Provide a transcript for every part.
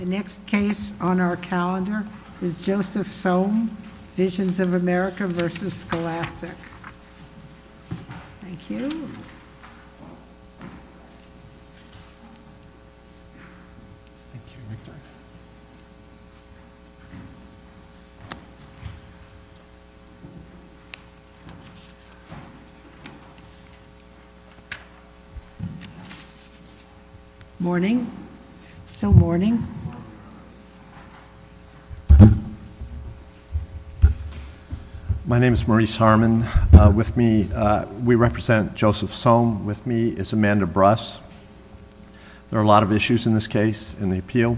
The next case on our calendar is Joseph Sohm, Visions of America v. Scholastic. Thank you. Morning. It's still morning. My name is Maurice Harmon. With me, we represent Joseph Sohm. With me is Amanda Bruss. There are a lot of issues in this case in the appeal.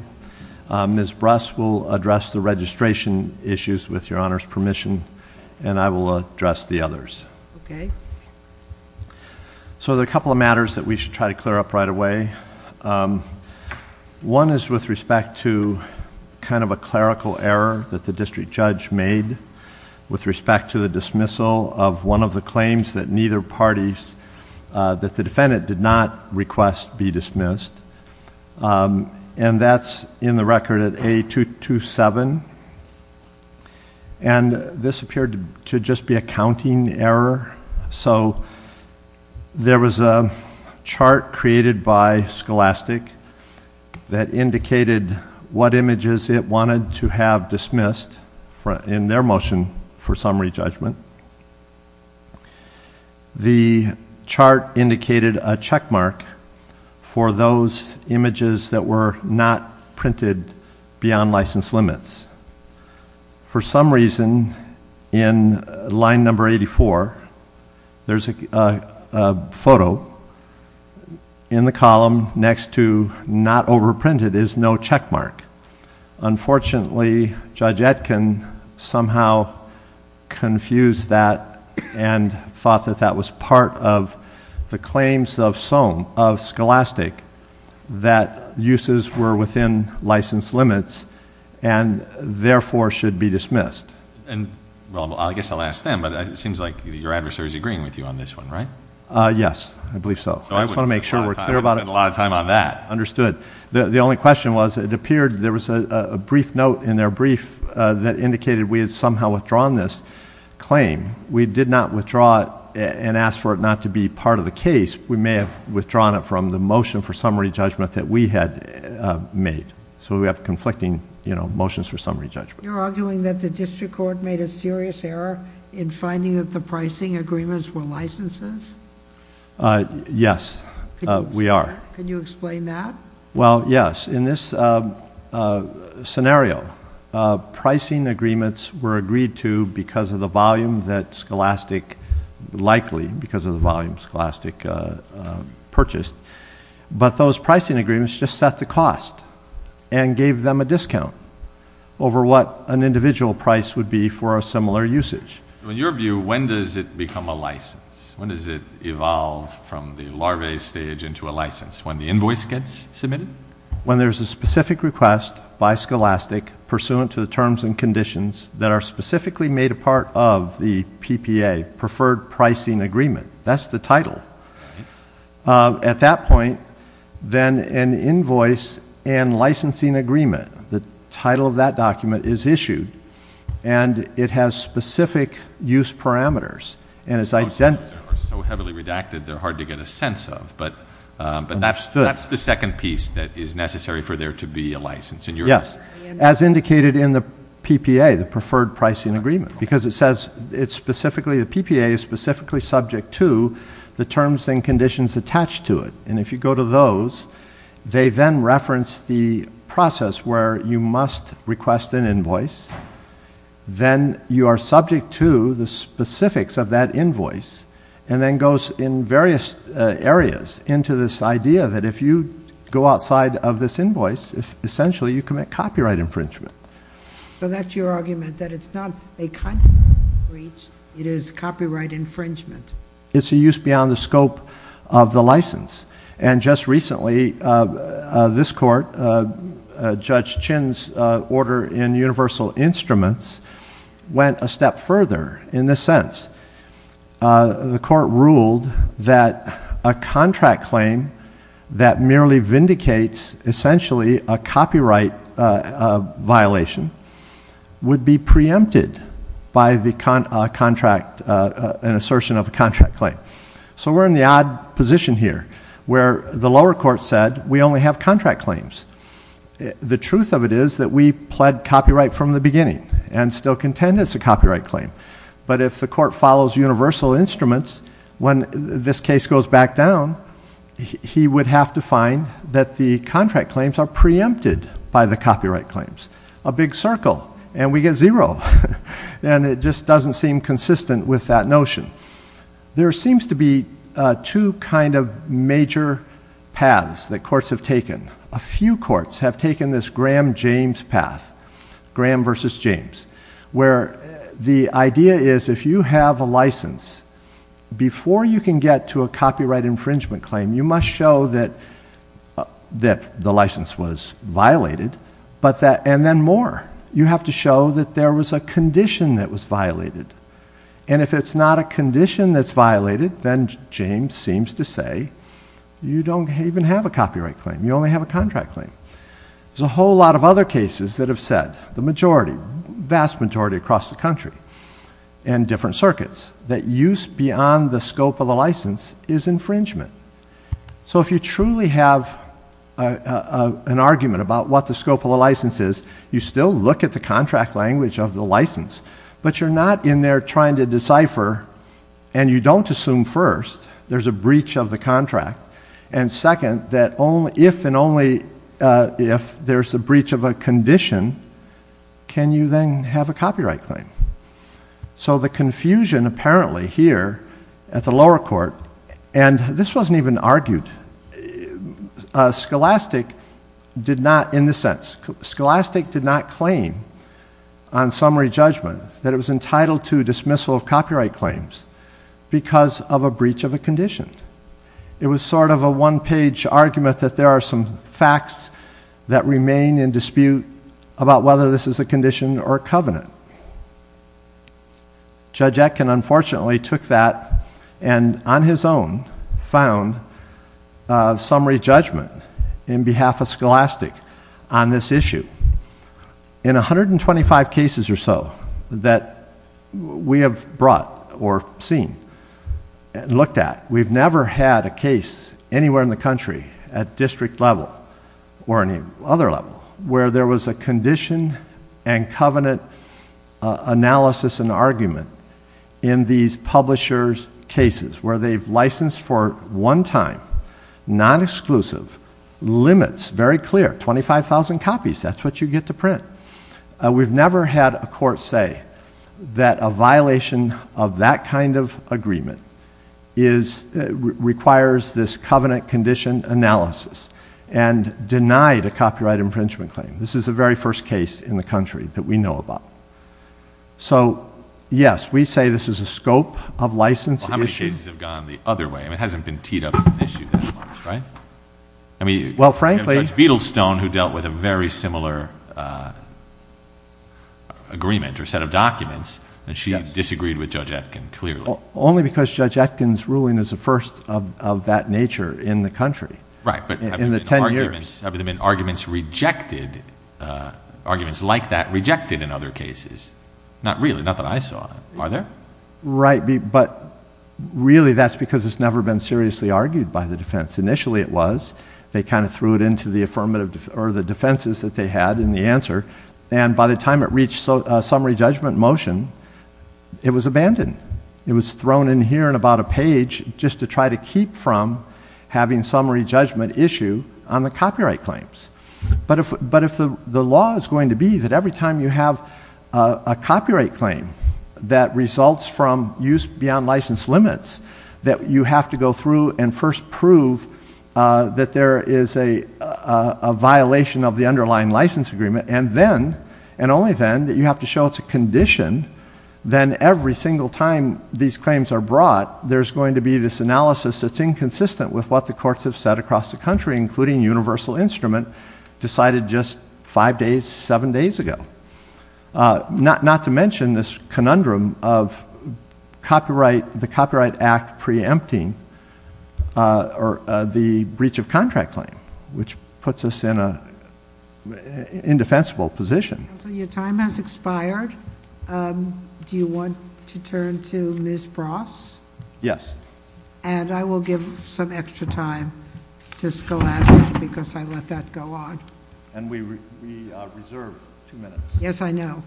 Ms. Bruss will address the registration issues with your Honor's permission, and I will address the others. Okay. So, there are a couple of matters that we should try to clear up right away. One is with respect to kind of a clerical error that the district judge made with respect to the dismissal of one of the claims that neither parties, that the defendant did not request be dismissed. And that's in the record at A227. And this appeared to just be a counting error. So, there was a chart created by Scholastic that indicated what images it wanted to have dismissed in their motion for summary judgment. The chart indicated a checkmark for those images that were not printed beyond license limits. For some reason, in line number 84, there's a photo in the column next to not overprinted is no checkmark. Unfortunately, Judge Etkin somehow confused that and thought that that was part of the be dismissed. Well, I guess I'll ask them, but it seems like your adversary is agreeing with you on this one, right? Yes. I believe so. I just want to make sure we're clear about it. I would spend a lot of time on that. Understood. The only question was, it appeared there was a brief note in their brief that indicated we had somehow withdrawn this claim. We did not withdraw it and ask for it not to be part of the case. We may have withdrawn it from the motion for summary judgment that we had made. We have conflicting motions for summary judgment. You're arguing that the district court made a serious error in finding that the pricing agreements were licenses? Yes, we are. Can you explain that? Well, yes. In this scenario, pricing agreements were agreed to because of the volume that Scholastic likely, because of the volume Scholastic purchased, but those pricing agreements just set the cost and gave them a discount over what an individual price would be for a similar usage. In your view, when does it become a license? When does it evolve from the larvae stage into a license? When the invoice gets submitted? When there's a specific request by Scholastic pursuant to the terms and conditions that are specifically made a part of the PPA, preferred pricing agreement. That's the title. At that point, then an invoice and licensing agreement, the title of that document is issued, and it has specific use parameters. Most of those are so heavily redacted, they're hard to get a sense of, but that's the second piece that is necessary for there to be a license in your view, sir? Yes. As indicated in the PPA, the preferred pricing agreement, because it says the PPA is specifically subject to the terms and conditions attached to it. If you go to those, they then reference the process where you must request an invoice, then you are subject to the specifics of that invoice, and then goes in various areas into this idea that if you go outside of this invoice, essentially you commit copyright infringement. That's your argument, that it's not a content breach, it is copyright infringement? It's a use beyond the scope of the license. Just recently, this court, Judge Chin's order in Universal Instruments, went a step further in this sense. The court ruled that a contract claim that merely vindicates essentially a copyright violation, would be preempted by an assertion of a contract claim. So we're in the odd position here, where the lower court said, we only have contract claims. The truth of it is that we pled copyright from the beginning, and still contend it's a copyright claim. But if the court follows Universal Instruments, when this case goes back down, he would have to find that the contract claims are preempted by the copyright claims. A big circle, and we get zero. And it just doesn't seem consistent with that notion. There seems to be two kind of major paths that courts have taken. A few courts have taken this Graham-James path, Graham versus James, where the idea is if you have a license, before you can get to a copyright infringement claim, you must show that the license was violated, and then more. You have to show that there was a condition that was violated. And if it's not a condition that's violated, then James seems to say, you don't even have a copyright claim. You only have a contract claim. There's a whole lot of other cases that have said, the majority, vast majority across the country, and different circuits, that use beyond the scope of the license is infringement. So if you truly have an argument about what the scope of the license is, you still look at the contract language of the license. But you're not in there trying to decipher, and you don't assume first, there's a breach of the contract, and second, that if and only if there's a breach of a condition, can you then have a copyright claim? So the confusion apparently here at the lower court, and this wasn't even argued, Scholastic did not in the sense, Scholastic did not claim on summary judgment that it was entitled to It was sort of a one-page argument that there are some facts that remain in dispute about whether this is a condition or a covenant. Judge Etkin unfortunately took that, and on his own, found summary judgment in behalf of Scholastic on this issue. In 125 cases or so, that we have brought, or seen, looked at, we've never had a case anywhere in the country, at district level, or any other level, where there was a condition and covenant analysis and argument in these publishers' cases, where they've licensed for one time, non-exclusive, limits, very clear, 25,000 copies, that's what you get to print. We've never had a court say that a violation of that kind of agreement requires this covenant condition analysis, and denied a copyright infringement claim. This is the very first case in the country that we know about. So yes, we say this is a scope of license issue. But other cases have gone the other way, and it hasn't been teed up as an issue that much, right? Well, frankly... Judge Beedlestone, who dealt with a very similar agreement, or set of documents, and she disagreed with Judge Etkin, clearly. Only because Judge Etkin's ruling is the first of that nature in the country, in the ten years. Right, but have there been arguments rejected, arguments like that, rejected in other cases? Not really, not that I saw, are there? Right, but really that's because it's never been seriously argued by the defense. Initially it was. They kind of threw it into the defenses that they had in the answer, and by the time it reached a summary judgment motion, it was abandoned. It was thrown in here and about a page, just to try to keep from having summary judgment issue on the copyright claims. But if the law is going to be that every time you have a copyright claim that results from use beyond license limits, that you have to go through and first prove that there is a violation of the underlying license agreement, and then, and only then, that you have to show it's a condition, then every single time these claims are brought, there's going to be this analysis that's inconsistent with what the courts have said across the country, including Universal Instrument, decided just five days, seven days ago. Not to mention this conundrum of copyright, the Copyright Act preempting, or the breach of contract claim, which puts us in a indefensible position. Counsel, your time has expired. Do you want to turn to Ms. Bross? Yes. And I will give some extra time to Scholastic, because I let that go on. And we reserve two minutes. Yes, I know.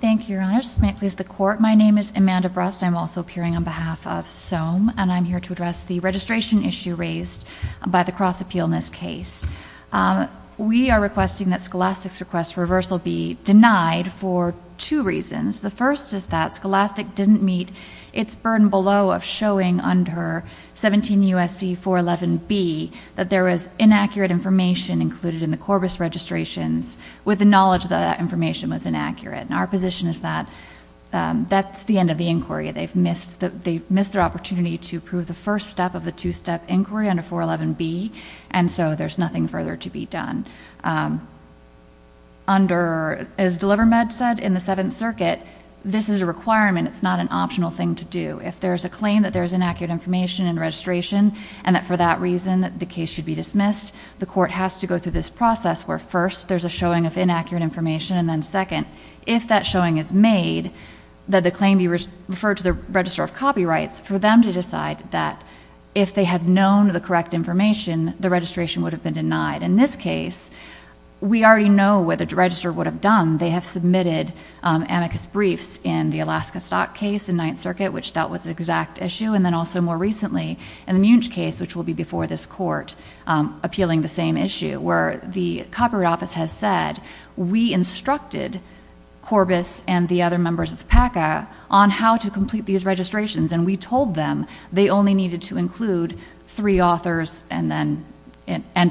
Thank you, Your Honor. Just a minute, please. The court, my name is Amanda Bross. I'm also appearing on behalf of SOME, and I'm here to address the registration issue raised by the cross-appeal in this case. We are requesting that Scholastic's request for reversal be denied for two reasons. The first is that Scholastic didn't meet its burden below of showing under 17 U.S.C. 411B that there was inaccurate information included in the Corbis registrations, with the knowledge that that information was inaccurate. And our position is that that's the end of the inquiry. They've missed their opportunity to prove the first step of the two-step inquiry under 411B, and so there's nothing further to be done. Under, as DeliverMed said, in the Seventh Circuit, this is a requirement. It's not an optional thing to do. If there's a claim that there's inaccurate information in registration and that for that reason the case should be dismissed, the court has to go through this process where first there's a showing of inaccurate information, and then second, if that showing is made, that the claim be referred to the Registrar of Copyrights for them to decide that if they had known the correct information, the registration would have been denied. In this case, we already know what the registrar would have done. They have submitted amicus briefs in the Alaska Stock case in Ninth Circuit, which dealt with the exact issue, and then also more recently in the Munch case, which will be before this court appealing the same issue, where the Copyright Office has said, we instructed Corbis and the other members of PACA on how to complete these registrations, and we told them they only needed to include three authors and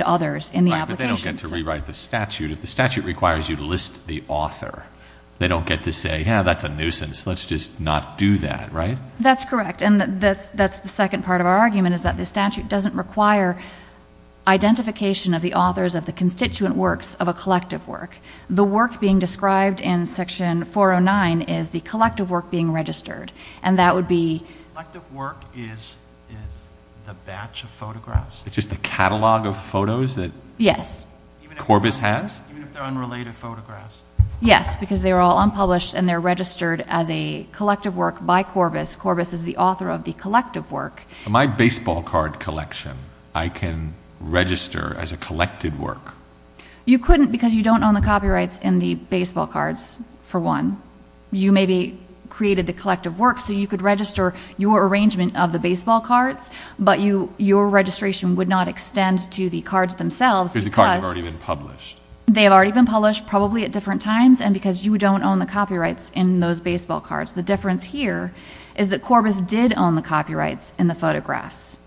others in the application. Right, but they don't get to rewrite the statute. If the statute requires you to list the author, they don't get to say, yeah, that's a nuisance. Let's just not do that, right? That's correct. And that's the second part of our argument, is that the statute doesn't require identification of the authors of the constituent works of a collective work. The work being described in Section 409 is the collective work being registered. And that would be... Collective work is the batch of photographs? It's just the catalog of photos that... Yes. ...Corbis has? Even if they're unrelated photographs? Yes, because they're all unpublished and they're registered as a collective work by Corbis. Corbis is the author of the collective work. My baseball card collection, I can register as a collected work. You couldn't because you don't own the copyrights in the baseball cards, for one. You maybe created the collective work so you could register your arrangement of the baseball cards, but your registration would not extend to the cards themselves because... Because the cards have already been published. They have already been published, probably at different times, and because you don't own the copyrights in those baseball cards. The difference here is that Corbis did own the copyrights in the photographs.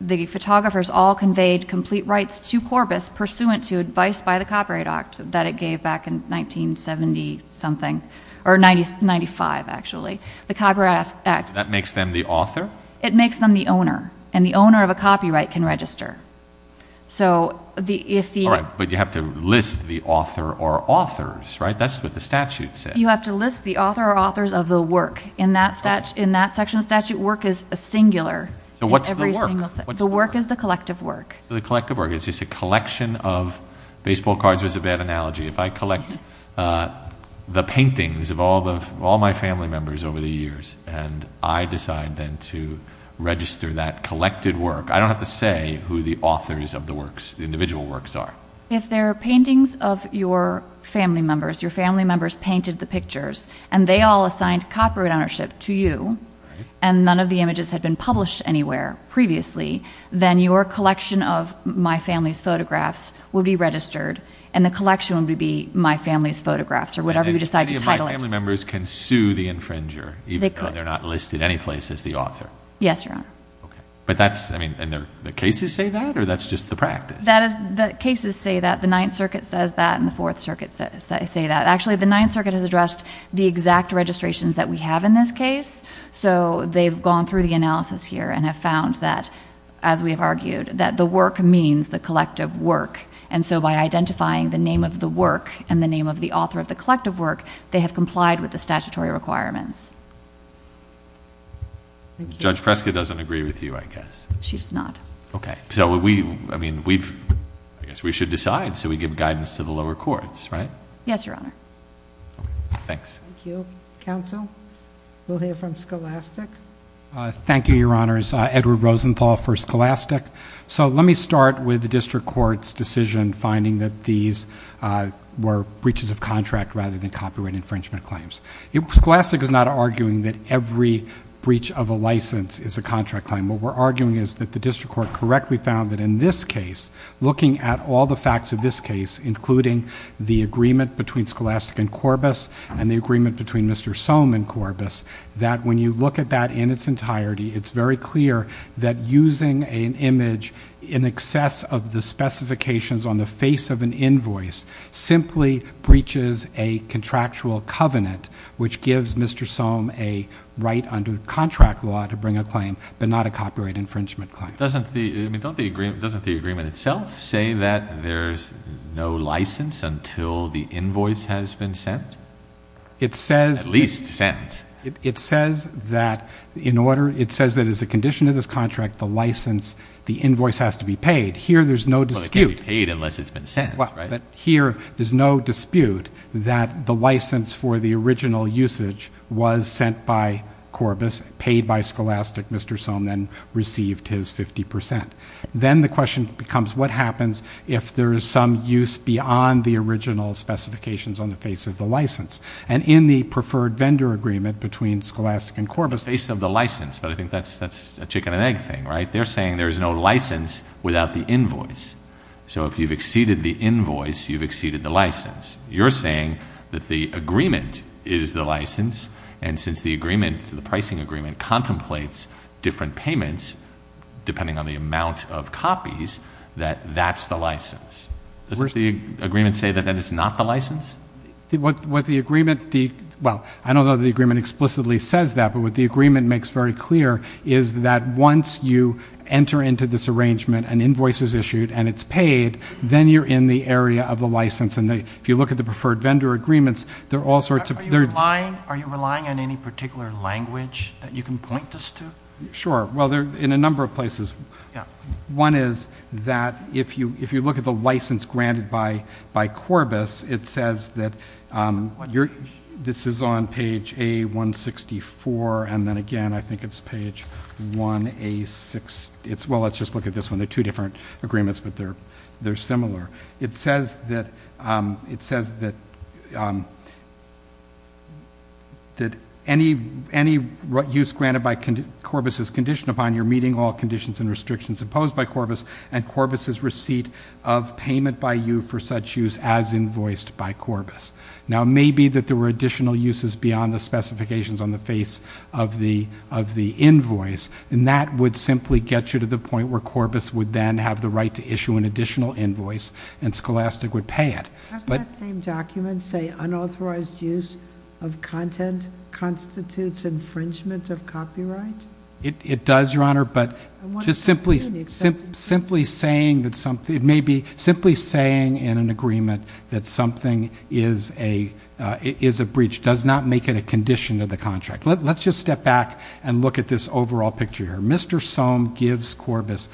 The photographers all conveyed complete rights to Corbis pursuant to advice by the Copyright Act that it gave back in 1970-something, or 95, actually. The Copyright Act... That makes them the author? It makes them the owner, and the owner of a copyright can register. So if the... All right, but you have to list the author or authors, right? That's what the statute says. You have to list the author or authors of the work. In that section of the statute, work is a singular in every single... So what's the work? What's the work? The work is the collective work. The collective work. The collective work is just a collection of... Baseball cards was a bad analogy. If I collect the paintings of all my family members over the years, and I decide then to register that collected work, I don't have to say who the authors of the works, the individual works are. If they're paintings of your family members, your family members painted the pictures, and they all assigned copyright ownership to you, and none of the images had been published anywhere previously, then your collection of my family's photographs will be registered, and the collection will be my family's photographs, or whatever you decide to title it. And then my family members can sue the infringer, even though they're not listed any place as the author? Yes, Your Honor. Okay. But that's... I mean, and the cases say that, or that's just the practice? That is... The cases say that. The Ninth Circuit says that, and the Fourth Circuit say that. Actually the Ninth Circuit has addressed the exact registrations that we have in this case, so they've gone through the analysis here and have found that, as we have argued, that the work means the collective work, and so by identifying the name of the work and the name of the author of the collective work, they have complied with the statutory requirements. Judge Prescott doesn't agree with you, I guess. She does not. Okay. So we, I mean, we've... I guess we should decide, so we give guidance to the lower courts, right? Yes, Your Honor. Okay. Thanks. Thank you. Thank you. Counsel? We'll hear from Scholastic. Thank you, Your Honors. Edward Rosenthal for Scholastic. So let me start with the district court's decision finding that these were breaches of contract rather than copyright infringement claims. Scholastic is not arguing that every breach of a license is a contract claim. What we're arguing is that the district court correctly found that in this case, looking at all the facts of this case, including the agreement between Scholastic and Corbis, and the agreement between Mr. Sohm and Corbis, that when you look at that in its entirety, it's very clear that using an image in excess of the specifications on the face of an invoice simply breaches a contractual covenant, which gives Mr. Sohm a right under contract law to bring a claim, but not a copyright infringement claim. Doesn't the agreement itself say that there's no license until the invoice has been sent? At least sent. It says that in order, it says that as a condition of this contract, the license, the invoice has to be paid. Here there's no dispute. Well, it can't be paid unless it's been sent, right? Here there's no dispute that the license for the original usage was sent by Corbis, paid by Scholastic. Mr. Sohm then received his 50%. Then the question becomes what happens if there is some use beyond the original specifications on the face of the license? And in the preferred vendor agreement between Scholastic and Corbis- Face of the license, but I think that's a chicken and egg thing, right? They're saying there's no license without the invoice. So if you've exceeded the invoice, you've exceeded the license. You're saying that the agreement is the license, and since the agreement, the pricing agreement, contemplates different payments, depending on the amount of copies, that that's the license. Doesn't the agreement say that that is not the license? What the agreement, well, I don't know that the agreement explicitly says that, but what the agreement makes very clear is that once you enter into this arrangement, an invoice is issued, and it's paid, then you're in the area of the license, and if you look at the preferred vendor agreements, there are all sorts of- Are you relying on any particular language that you can point us to? Sure. Well, in a number of places. Yeah. One is that if you look at the license granted by Corbis, it says that this is on page A-164, and then again, I think it's page 1A-6, well, let's just look at this one. They're two different agreements, but they're similar. It says that any use granted by Corbis is conditioned upon your meeting all conditions and restrictions imposed by Corbis, and Corbis's receipt of payment by you for such use as invoiced by Corbis. Now, maybe that there were additional uses beyond the specifications on the face of the invoice, and that would simply get you to the point where Corbis would then have the right to issue an additional invoice, and Scholastic would pay it, but- Doesn't that same document say unauthorized use of content constitutes infringement of copyright? It does, Your Honor, but just simply saying that something, it may be simply saying in an agreement that something is a breach does not make it a condition of the contract. Let's just step back and look at this overall picture here. Mr. Soam gives Corbis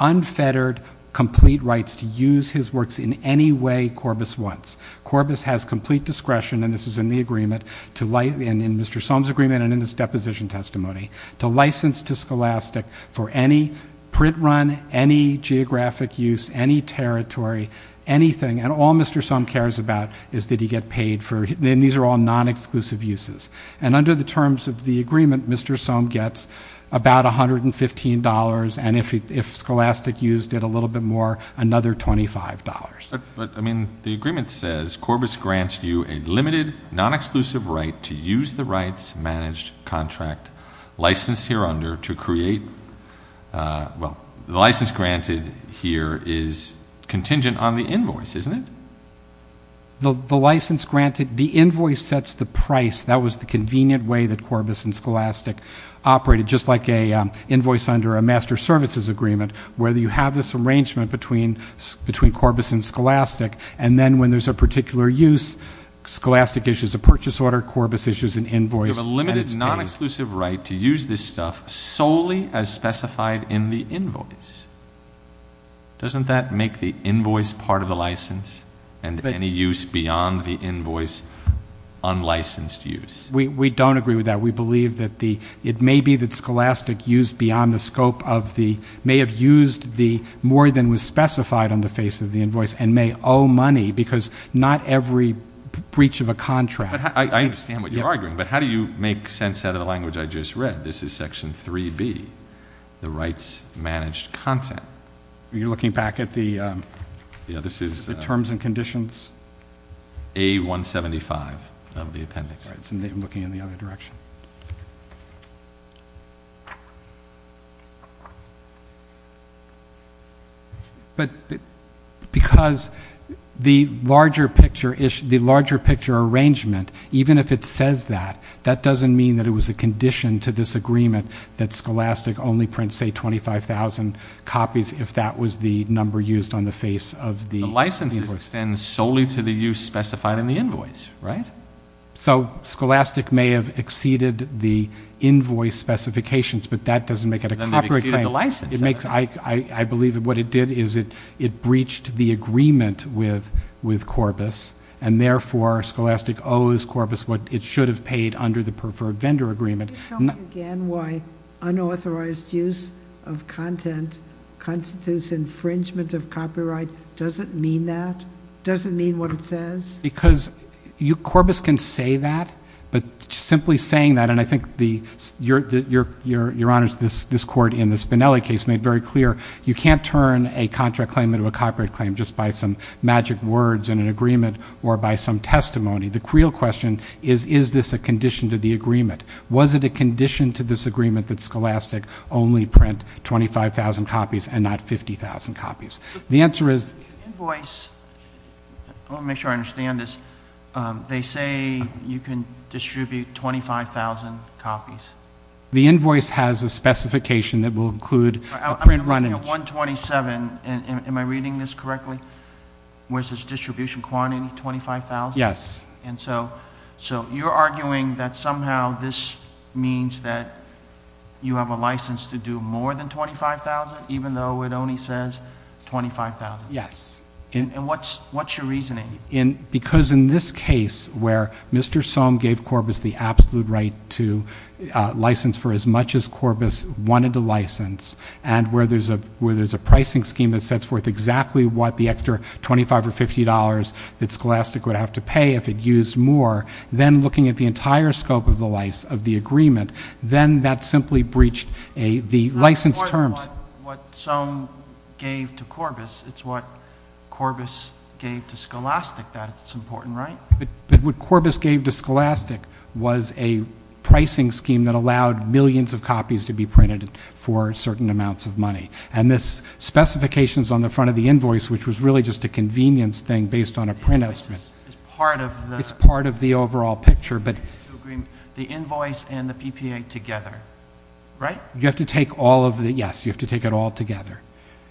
unfettered, complete rights to use his works in any way Corbis wants. Corbis has complete discretion, and this is in the agreement, in Mr. Soam's agreement and in this deposition testimony, to license to Scholastic for any print run, any geographic use, any territory, anything, and all Mr. Soam cares about is that he get paid for, and these are all non-exclusive uses. And under the terms of the agreement, Mr. Soam gets about $115, and if Scholastic used it a little bit more, another $25. But, I mean, the agreement says Corbis grants you a limited, non-exclusive right to use the rights, managed contract, license here under to create, well, the license granted here is contingent on the invoice, isn't it? The license granted, the invoice sets the price. That was the convenient way that Corbis and Scholastic operated, just like an invoice under a master services agreement, where you have this arrangement between Corbis and Scholastic, and then when there's a particular use, Scholastic issues a purchase order, Corbis issues an invoice. You have a limited, non-exclusive right to use this stuff solely as specified in the invoice. Doesn't that make the invoice part of the license, and any use beyond the invoice unlicensed use? We don't agree with that. We believe that the, it may be that Scholastic used beyond the scope of the, may have used the more than was specified on the face of the invoice, and may owe money, because not every breach of a contract. I understand what you're arguing, but how do you make sense out of the language I just read? This is section 3B, the rights managed content. You're looking back at the terms and conditions? A-175 of the appendix. Looking in the other direction. But, because the larger picture arrangement, even if it says that, that doesn't mean that it was a condition to this agreement that Scholastic only print, say, 25,000 copies if that was the number used on the face of the invoice. The license extends solely to the use specified in the invoice, right? So Scholastic may have exceeded the invoice specifications, but that doesn't make it a Then they've exceeded the license. I believe that what it did is it breached the agreement with Corbis, and therefore Scholastic owes Corbis what it should have paid under the preferred vendor agreement. Can you tell me again why unauthorized use of content constitutes infringement of copyright? Does it mean that? Does it mean what it says? Because Corbis can say that, but simply saying that, and I think Your Honor, this court in the Spinelli case made very clear, you can't turn a contract claim into a copyright claim just by some magic words in an agreement or by some testimony. The real question is, is this a condition to the agreement? Was it a condition to this agreement that Scholastic only print 25,000 copies and not 50,000 copies? The answer is— I don't understand this. They say you can distribute 25,000 copies. The invoice has a specification that will include a print run-in. I'm looking at 127, and am I reading this correctly, where it says distribution quantity 25,000? Yes. And so you're arguing that somehow this means that you have a license to do more than 25,000 even though it only says 25,000? Yes. And what's your reasoning? Because in this case, where Mr. Sohm gave Corbis the absolute right to license for as much as Corbis wanted to license, and where there's a pricing scheme that sets forth exactly what the extra $25 or $50 that Scholastic would have to pay if it used more, then looking at the entire scope of the agreement, then that simply breached the license terms. What Sohm gave to Corbis, it's what Corbis gave to Scholastic that's important, right? But what Corbis gave to Scholastic was a pricing scheme that allowed millions of copies to be printed for certain amounts of money. And this specification's on the front of the invoice, which was really just a convenience thing based on a print estimate. It's part of the— It's part of the overall picture, but— The invoice and the PPA together, right? You have to take all of the—yes, you have to take it all together.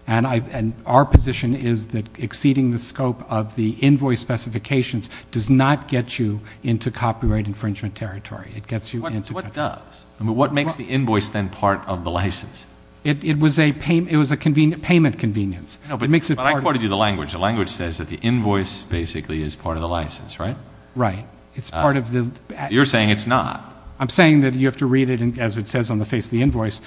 And our position is that exceeding the scope of the invoice specifications does not get you into copyright infringement territory. It gets you into— What does? I mean, what makes the invoice then part of the license? It was a payment convenience. It makes it part of— But I quoted you the language. The language says that the invoice basically is part of the license, right? Right. It's part of the— You're saying it's not. I'm saying that you have to read it as it says on the face of the invoice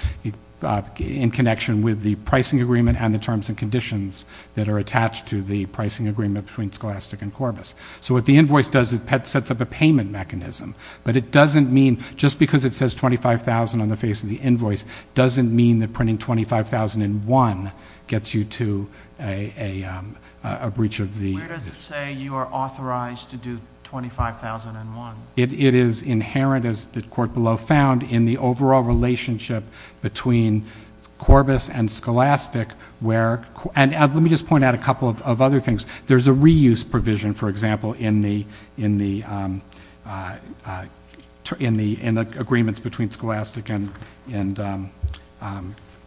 in connection with the pricing agreement and the terms and conditions that are attached to the pricing agreement between Scholastic and Corbis. So what the invoice does is sets up a payment mechanism, but it doesn't mean—just because it says $25,000 on the face of the invoice doesn't mean that printing $25,001 gets you to a breach of the— Where does it say you are authorized to do $25,001? It is inherent, as the court below found, in the overall relationship between Corbis and Scholastic where—and let me just point out a couple of other things. There's a reuse provision, for example, in the agreements between Scholastic and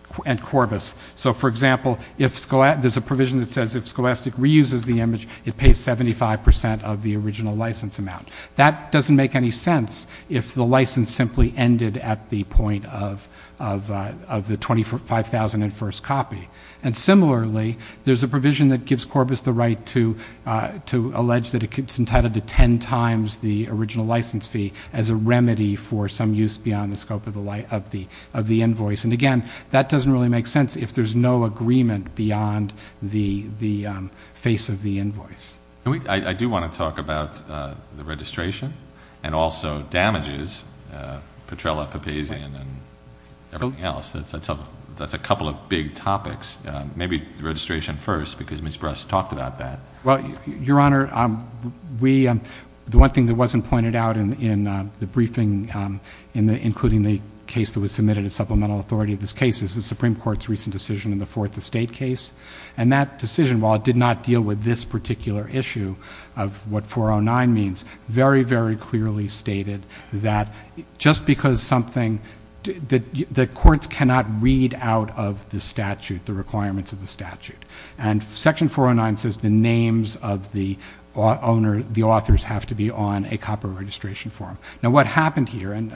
Corbis. So for example, there's a provision that says if Scholastic reuses the image, it pays 75% of the original license amount. That doesn't make any sense if the license simply ended at the point of the $25,001 copy. And similarly, there's a provision that gives Corbis the right to allege that it's entitled to 10 times the original license fee as a remedy for some use beyond the scope of the invoice. And again, that doesn't really make sense if there's no agreement beyond the face of the invoice. I do want to talk about the registration and also damages, Petrella, Papazian, and everything else. That's a couple of big topics. Maybe registration first because Ms. Bress talked about that. Well, Your Honor, the one thing that wasn't pointed out in the briefing, including the case that was submitted as supplemental authority of this case, is the Supreme Court's recent decision in the Fourth Estate case. And that decision, while it did not deal with this particular issue of what 409 means, very, very clearly stated that just because something that courts cannot read out of the statute, the requirements of the statute. And Section 409 says the names of the authors have to be on a copy of registration form. Now, what happened here, and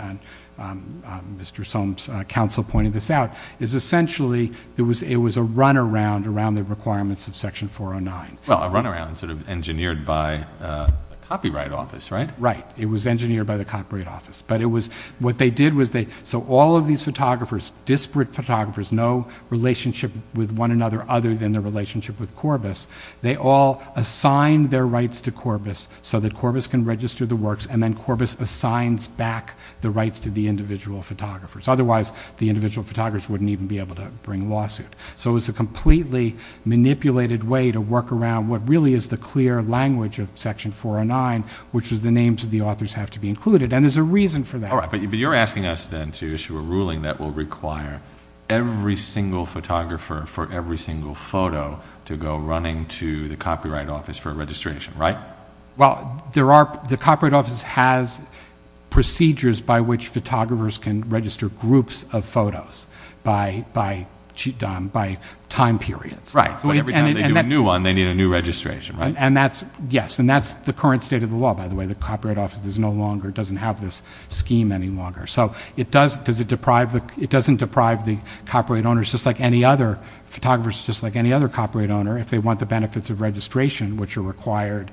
Mr. Soames' counsel pointed this out, is essentially it was a runaround around the requirements of Section 409. Well, a runaround sort of engineered by the Copyright Office, right? Right. It was engineered by the Copyright Office. But it was, what they did was they, so all of these photographers, disparate photographers, no relationship with one another other than the relationship with Corbis, they all assigned their rights to Corbis so that Corbis can register the works and then Corbis assigns back the rights to the individual photographers. Otherwise, the individual photographers wouldn't even be able to bring lawsuit. So it was a completely manipulated way to work around what really is the clear language of Section 409, which is the names of the authors have to be included. And there's a reason for that. All right. But you're asking us then to issue a ruling that will require every single photographer for every single photo to go running to the Copyright Office for registration, right? Well, there are, the Copyright Office has procedures by which photographers can register groups of photos by time periods. Right. So every time they do a new one, they need a new registration, right? And that's, yes. And that's the current state of the law, by the way. The Copyright Office is no longer, doesn't have this scheme any longer. So it does, does it deprive the, it doesn't deprive the copyright owners just like any other photographers, just like any other copyright owner, if they want the benefits of registration, which are required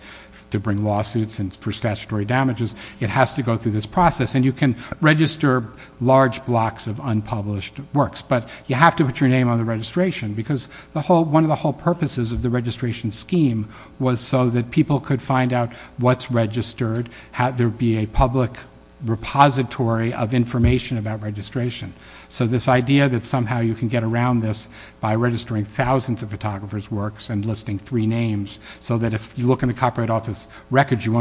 to bring lawsuits and for statutory damages, it has to go through this process. And you can register large blocks of unpublished works, but you have to put your name on the registration because the whole, one of the whole purposes of the registration scheme was so that people could find out what's registered, how there'd be a public repository of information about registration. So this idea that somehow you can get around this by registering thousands of photographers' works and listing three names so that if you look in the Copyright Office records, you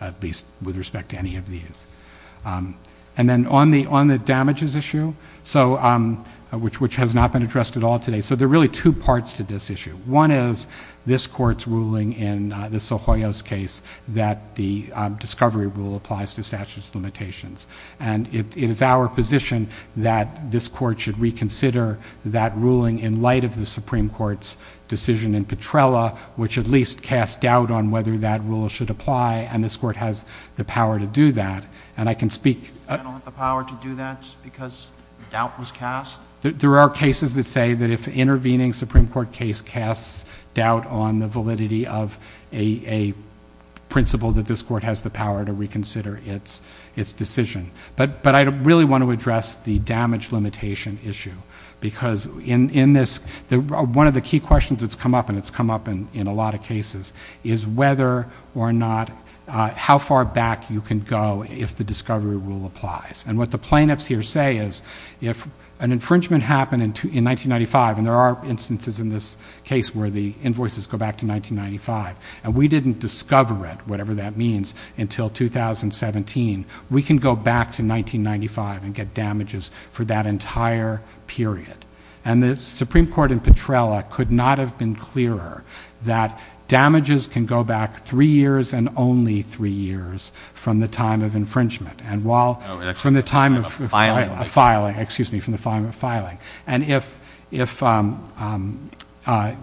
at least, with respect to any of these. And then on the, on the damages issue, so which, which has not been addressed at all today. So there are really two parts to this issue. One is this court's ruling in the Sohoyo's case that the discovery rule applies to statutes limitations. And it is our position that this court should reconsider that ruling in light of the Supreme Court's decision in Petrella, which at least cast doubt on whether that rule should apply. And this court has the power to do that. And I can speak. You don't have the power to do that just because doubt was cast? There are cases that say that if intervening Supreme Court case casts doubt on the validity of a, a principle that this court has the power to reconsider its, its decision. But, but I really want to address the damage limitation issue because in, in this, one of the key questions that's come up and it's come up in, in a lot of cases is whether or not, how far back you can go if the discovery rule applies. And what the plaintiffs here say is if an infringement happened in 1995, and there are instances in this case where the invoices go back to 1995, and we didn't discover it, whatever that means, until 2017, we can go back to 1995 and get damages for that entire period. And the Supreme Court in Petrella could not have been clearer that damages can go back three years and only three years from the time of infringement. And while, from the time of filing, excuse me, from the time of filing. And if, if that,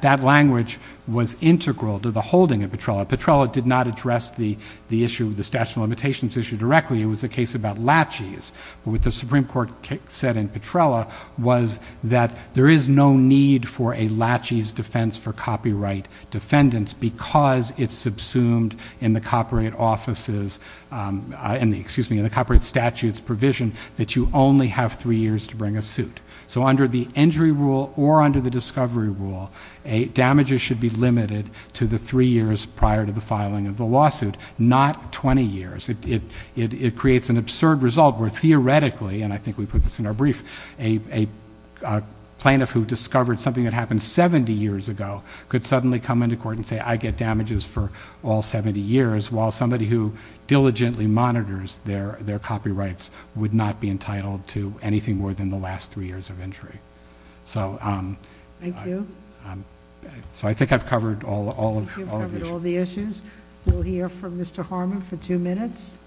that language was integral to the holding of Petrella, Petrella did not address the, the issue of the statute of limitations issue directly. It was a case about laches, but what the Supreme Court said in Petrella was that there is no need for a laches defense for copyright defendants because it's subsumed in the copyright offices, excuse me, in the copyright statutes provision that you only have three years to bring a suit. So under the injury rule or under the discovery rule, a damages should be limited to the three years prior to the filing of the lawsuit, not 20 years. It creates an absurd result where theoretically, and I think we put this in our brief, a plaintiff who discovered something that happened 70 years ago could suddenly come into court and say I get damages for all 70 years while somebody who diligently monitors their, their copyrights would not be entitled to anything more than the last three years of injury. So thank you. So I think I've covered all, all of all the issues we'll hear from Mr Harmon for two minutes.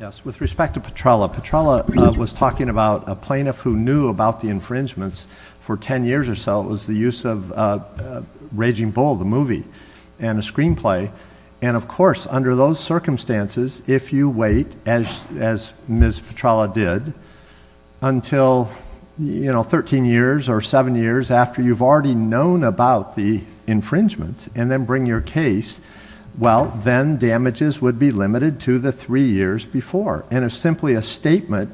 Yes. With respect to Petrella, Petrella was talking about a plaintiff who knew about the infringements for ten years or so. It was the use of Raging Bull, the movie, and a screenplay. And of course, under those circumstances, if you wait as, as Ms. Petrella did until, you know, thirteen years or seven years after you've already known about the infringements and then bring your case, well, then damages would be limited to the three years before it's dicta.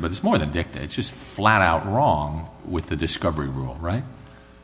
But it's more than dicta. It's just flat out wrong with the discovery rule, right?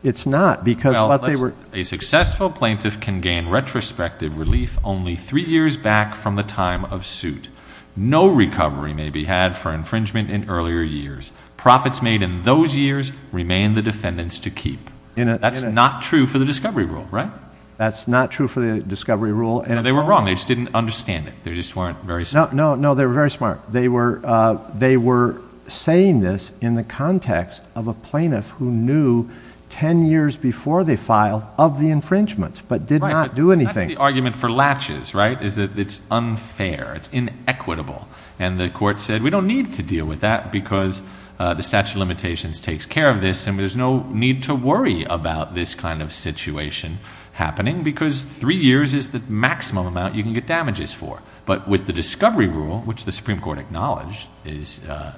It's not, because what they were. A successful plaintiff can gain retrospective relief only three years back from the time of suit. No recovery may be had for infringement in earlier years. Profits made in those years remain the defendant's to keep. That's not true for the discovery rule, right? That's not true for the discovery rule. No, they were wrong. They just didn't understand it. They just weren't very smart. No, no, no. They were very smart. They were, uh, they were saying this in the context of a plaintiff who knew ten years before they filed of the infringements, but did not do anything. Right, but that's the argument for latches, right? Is that it's unfair, it's inequitable. And the court said, we don't need to deal with that because, uh, the statute of limitations takes care of this and there's no need to worry about this kind of situation happening because three years is the maximum amount you can get damages for. But with the discovery rule, which the Supreme Court acknowledged is, uh,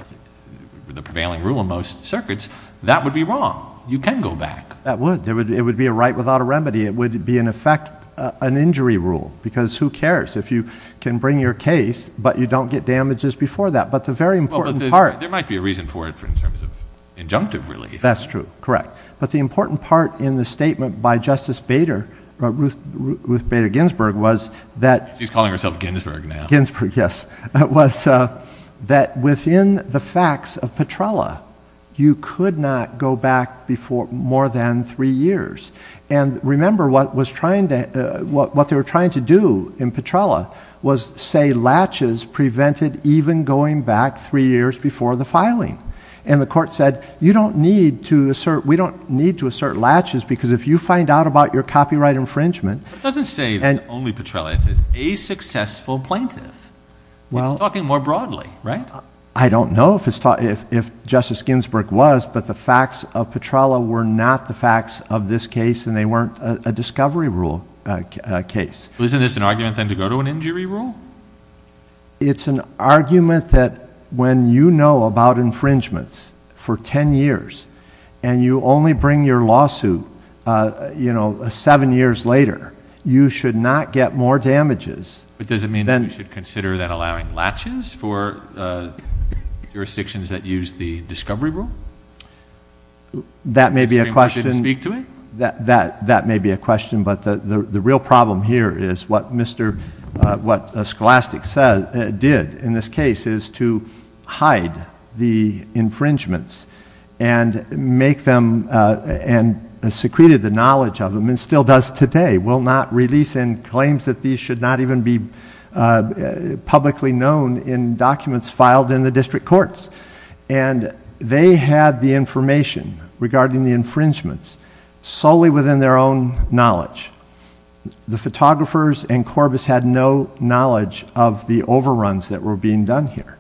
the prevailing rule in most circuits, that would be wrong. You can go back. That would. It would be a right without a remedy. It would be, in effect, an injury rule because who cares if you can bring your case but you don't get damages before that. But the very important part. There might be a reason for it in terms of injunctive relief. That's true. Correct. But the important part in the statement by Justice Bader, Ruth Bader Ginsburg, was that She's calling herself Ginsburg now. Ginsburg, yes. Was, uh, that within the facts of Petrella, you could not go back before more than three years. And remember what was trying to, what they were trying to do in Petrella was say latches prevented even going back three years before the filing. And the court said, you don't need to assert, we don't need to assert latches because if you find out about your copyright infringement. But it doesn't say only Petrella, it says a successful plaintiff. It's talking more broadly, right? I don't know if Justice Ginsburg was, but the facts of Petrella were not the facts of this case and they weren't a discovery rule case. Isn't this an argument then to go to an injury rule? It's an argument that when you know about infringements for 10 years and you only bring your lawsuit, uh, you know, seven years later, you should not get more damages. But does it mean we should consider that allowing latches for, uh, jurisdictions that use the discovery rule? That may be a question. Did Supreme Court speak to it? That may be a question. But the real problem here is what Mr., uh, what Scholastic said, did in this case is to hide the infringements and make them, uh, and secreted the knowledge of them and still does today, will not release and claims that these should not even be, uh, publicly known in documents filed in the district courts. And they had the information regarding the infringements solely within their own knowledge. The photographers and Corbis had no knowledge of the overruns that were being done here.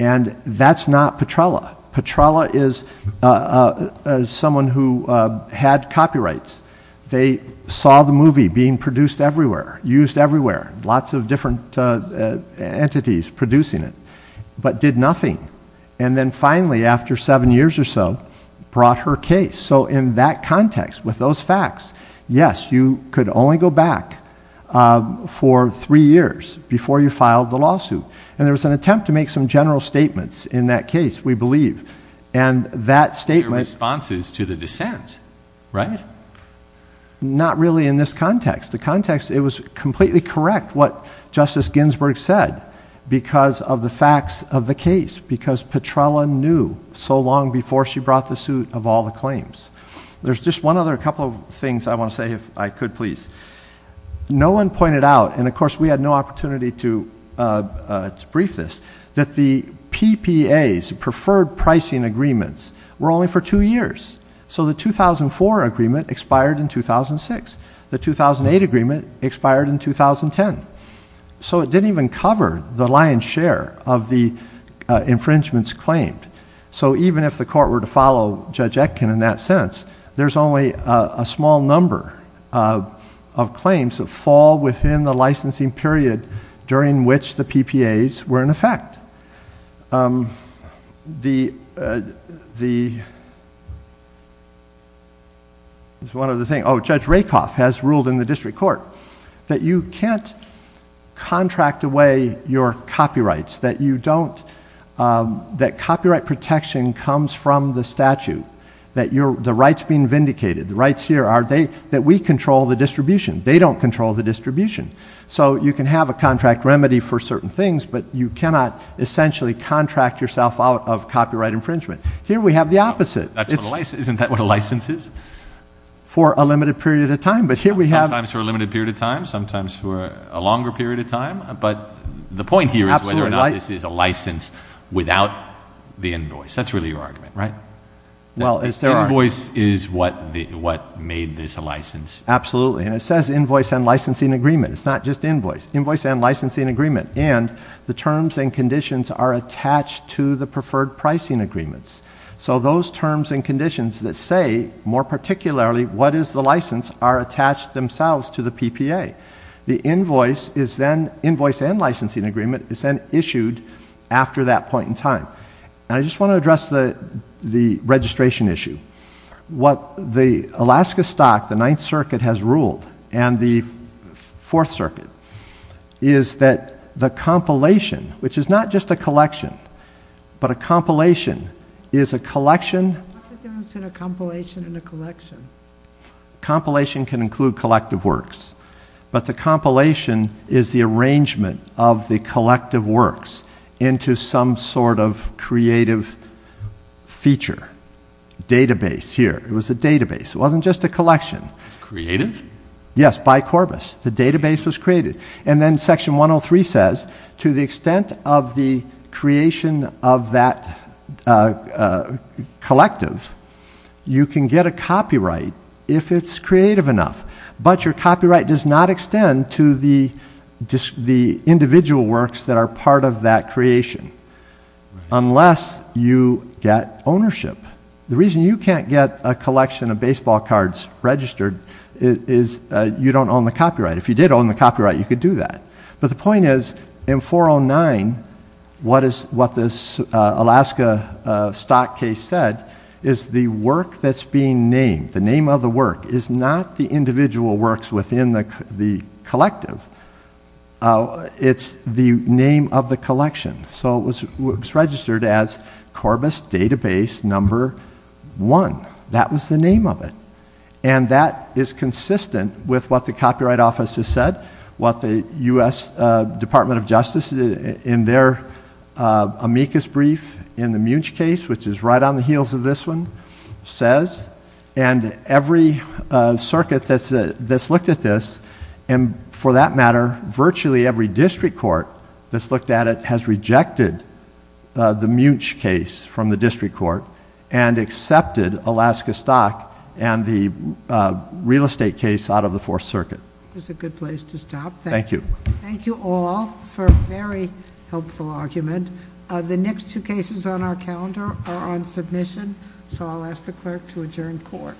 And that's not Petrella. Petrella is, uh, uh, someone who, uh, had copyrights. They saw the movie being produced everywhere, used everywhere, lots of different, uh, uh, entities producing it, but did nothing. And then finally, after seven years or so, brought her case. So in that context, with those facts, yes, you could only go back, uh, for three years before you filed the lawsuit. And there was an attempt to make some general statements in that case, we believe. And that statement- Your response is to the dissent, right? Not really in this context. The context, it was completely correct what Justice Ginsburg said because of the facts of the case, because Petrella knew so long before she brought the suit of all the claims. There's just one other couple of things I want to say if I could, please. No one pointed out, and of course we had no opportunity to, uh, uh, to brief this, that the PPAs, preferred pricing agreements, were only for two years. So the 2004 agreement expired in 2006. The 2008 agreement expired in 2010. So it didn't even cover the lion's share of the, uh, infringements claimed. So even if the court were to follow Judge Etkin in that sense, there's only, uh, a small number, uh, of claims that fall within the licensing period during which the PPAs were in effect. Um, the, uh, the, there's one other thing, oh, Judge Rakoff has ruled in the district court that you can't contract away your copyrights, that you don't, um, that copyright protection comes from the statute, that you're, the rights being vindicated, the rights here are they, that we control the distribution. They don't control the distribution. So you can have a contract remedy for certain things, but you cannot essentially contract yourself out of copyright infringement. Here we have the opposite. That's what a license, isn't that what a license is? For a limited period of time. But here we have... Sometimes for a limited period of time, sometimes for a longer period of time, but the point here is whether or not this is a license without the invoice. That's really your argument, right? Well as there are... Invoice is what the, what made this a license. Absolutely. And it says invoice and licensing agreement. It's not just invoice. Invoice and licensing agreement. And the terms and conditions are attached to the preferred pricing agreements. So those terms and conditions that say, more particularly, what is the license, are attached themselves to the PPA. The invoice is then, invoice and licensing agreement, is then issued after that point in time. And I just want to address the registration issue. What the Alaska Stock, the Ninth Circuit has ruled, and the Fourth Circuit, is that the collection... What's the difference between a compilation and a collection? Compilation can include collective works. But the compilation is the arrangement of the collective works into some sort of creative feature. Database here. It was a database. It wasn't just a collection. Creative? Yes. By Corbis. The database was created. And then Section 103 says, to the extent of the creation of that collective, you can get a copyright if it's creative enough. But your copyright does not extend to the individual works that are part of that creation. Unless you get ownership. The reason you can't get a collection of baseball cards registered is you don't own the copyright. If you did own the copyright, you could do that. But the point is, in 409, what this Alaska Stock case said is the work that's being named, the name of the work, is not the individual works within the collective. It's the name of the collection. So it was registered as Corbis Database Number 1. That was the name of it. And that is consistent with what the Copyright Office has said, what the U.S. Department of Justice, in their amicus brief, in the Munch case, which is right on the heels of this one, says. And every circuit that's looked at this, and for that matter, virtually every district court that's looked at it, has rejected the Munch case from the district court and accepted Alaska Stock and the real estate case out of the Fourth Circuit. This is a good place to stop. Thank you. Thank you all for a very helpful argument. The next two cases on our calendar are on submission, so I'll ask the clerk to adjourn court.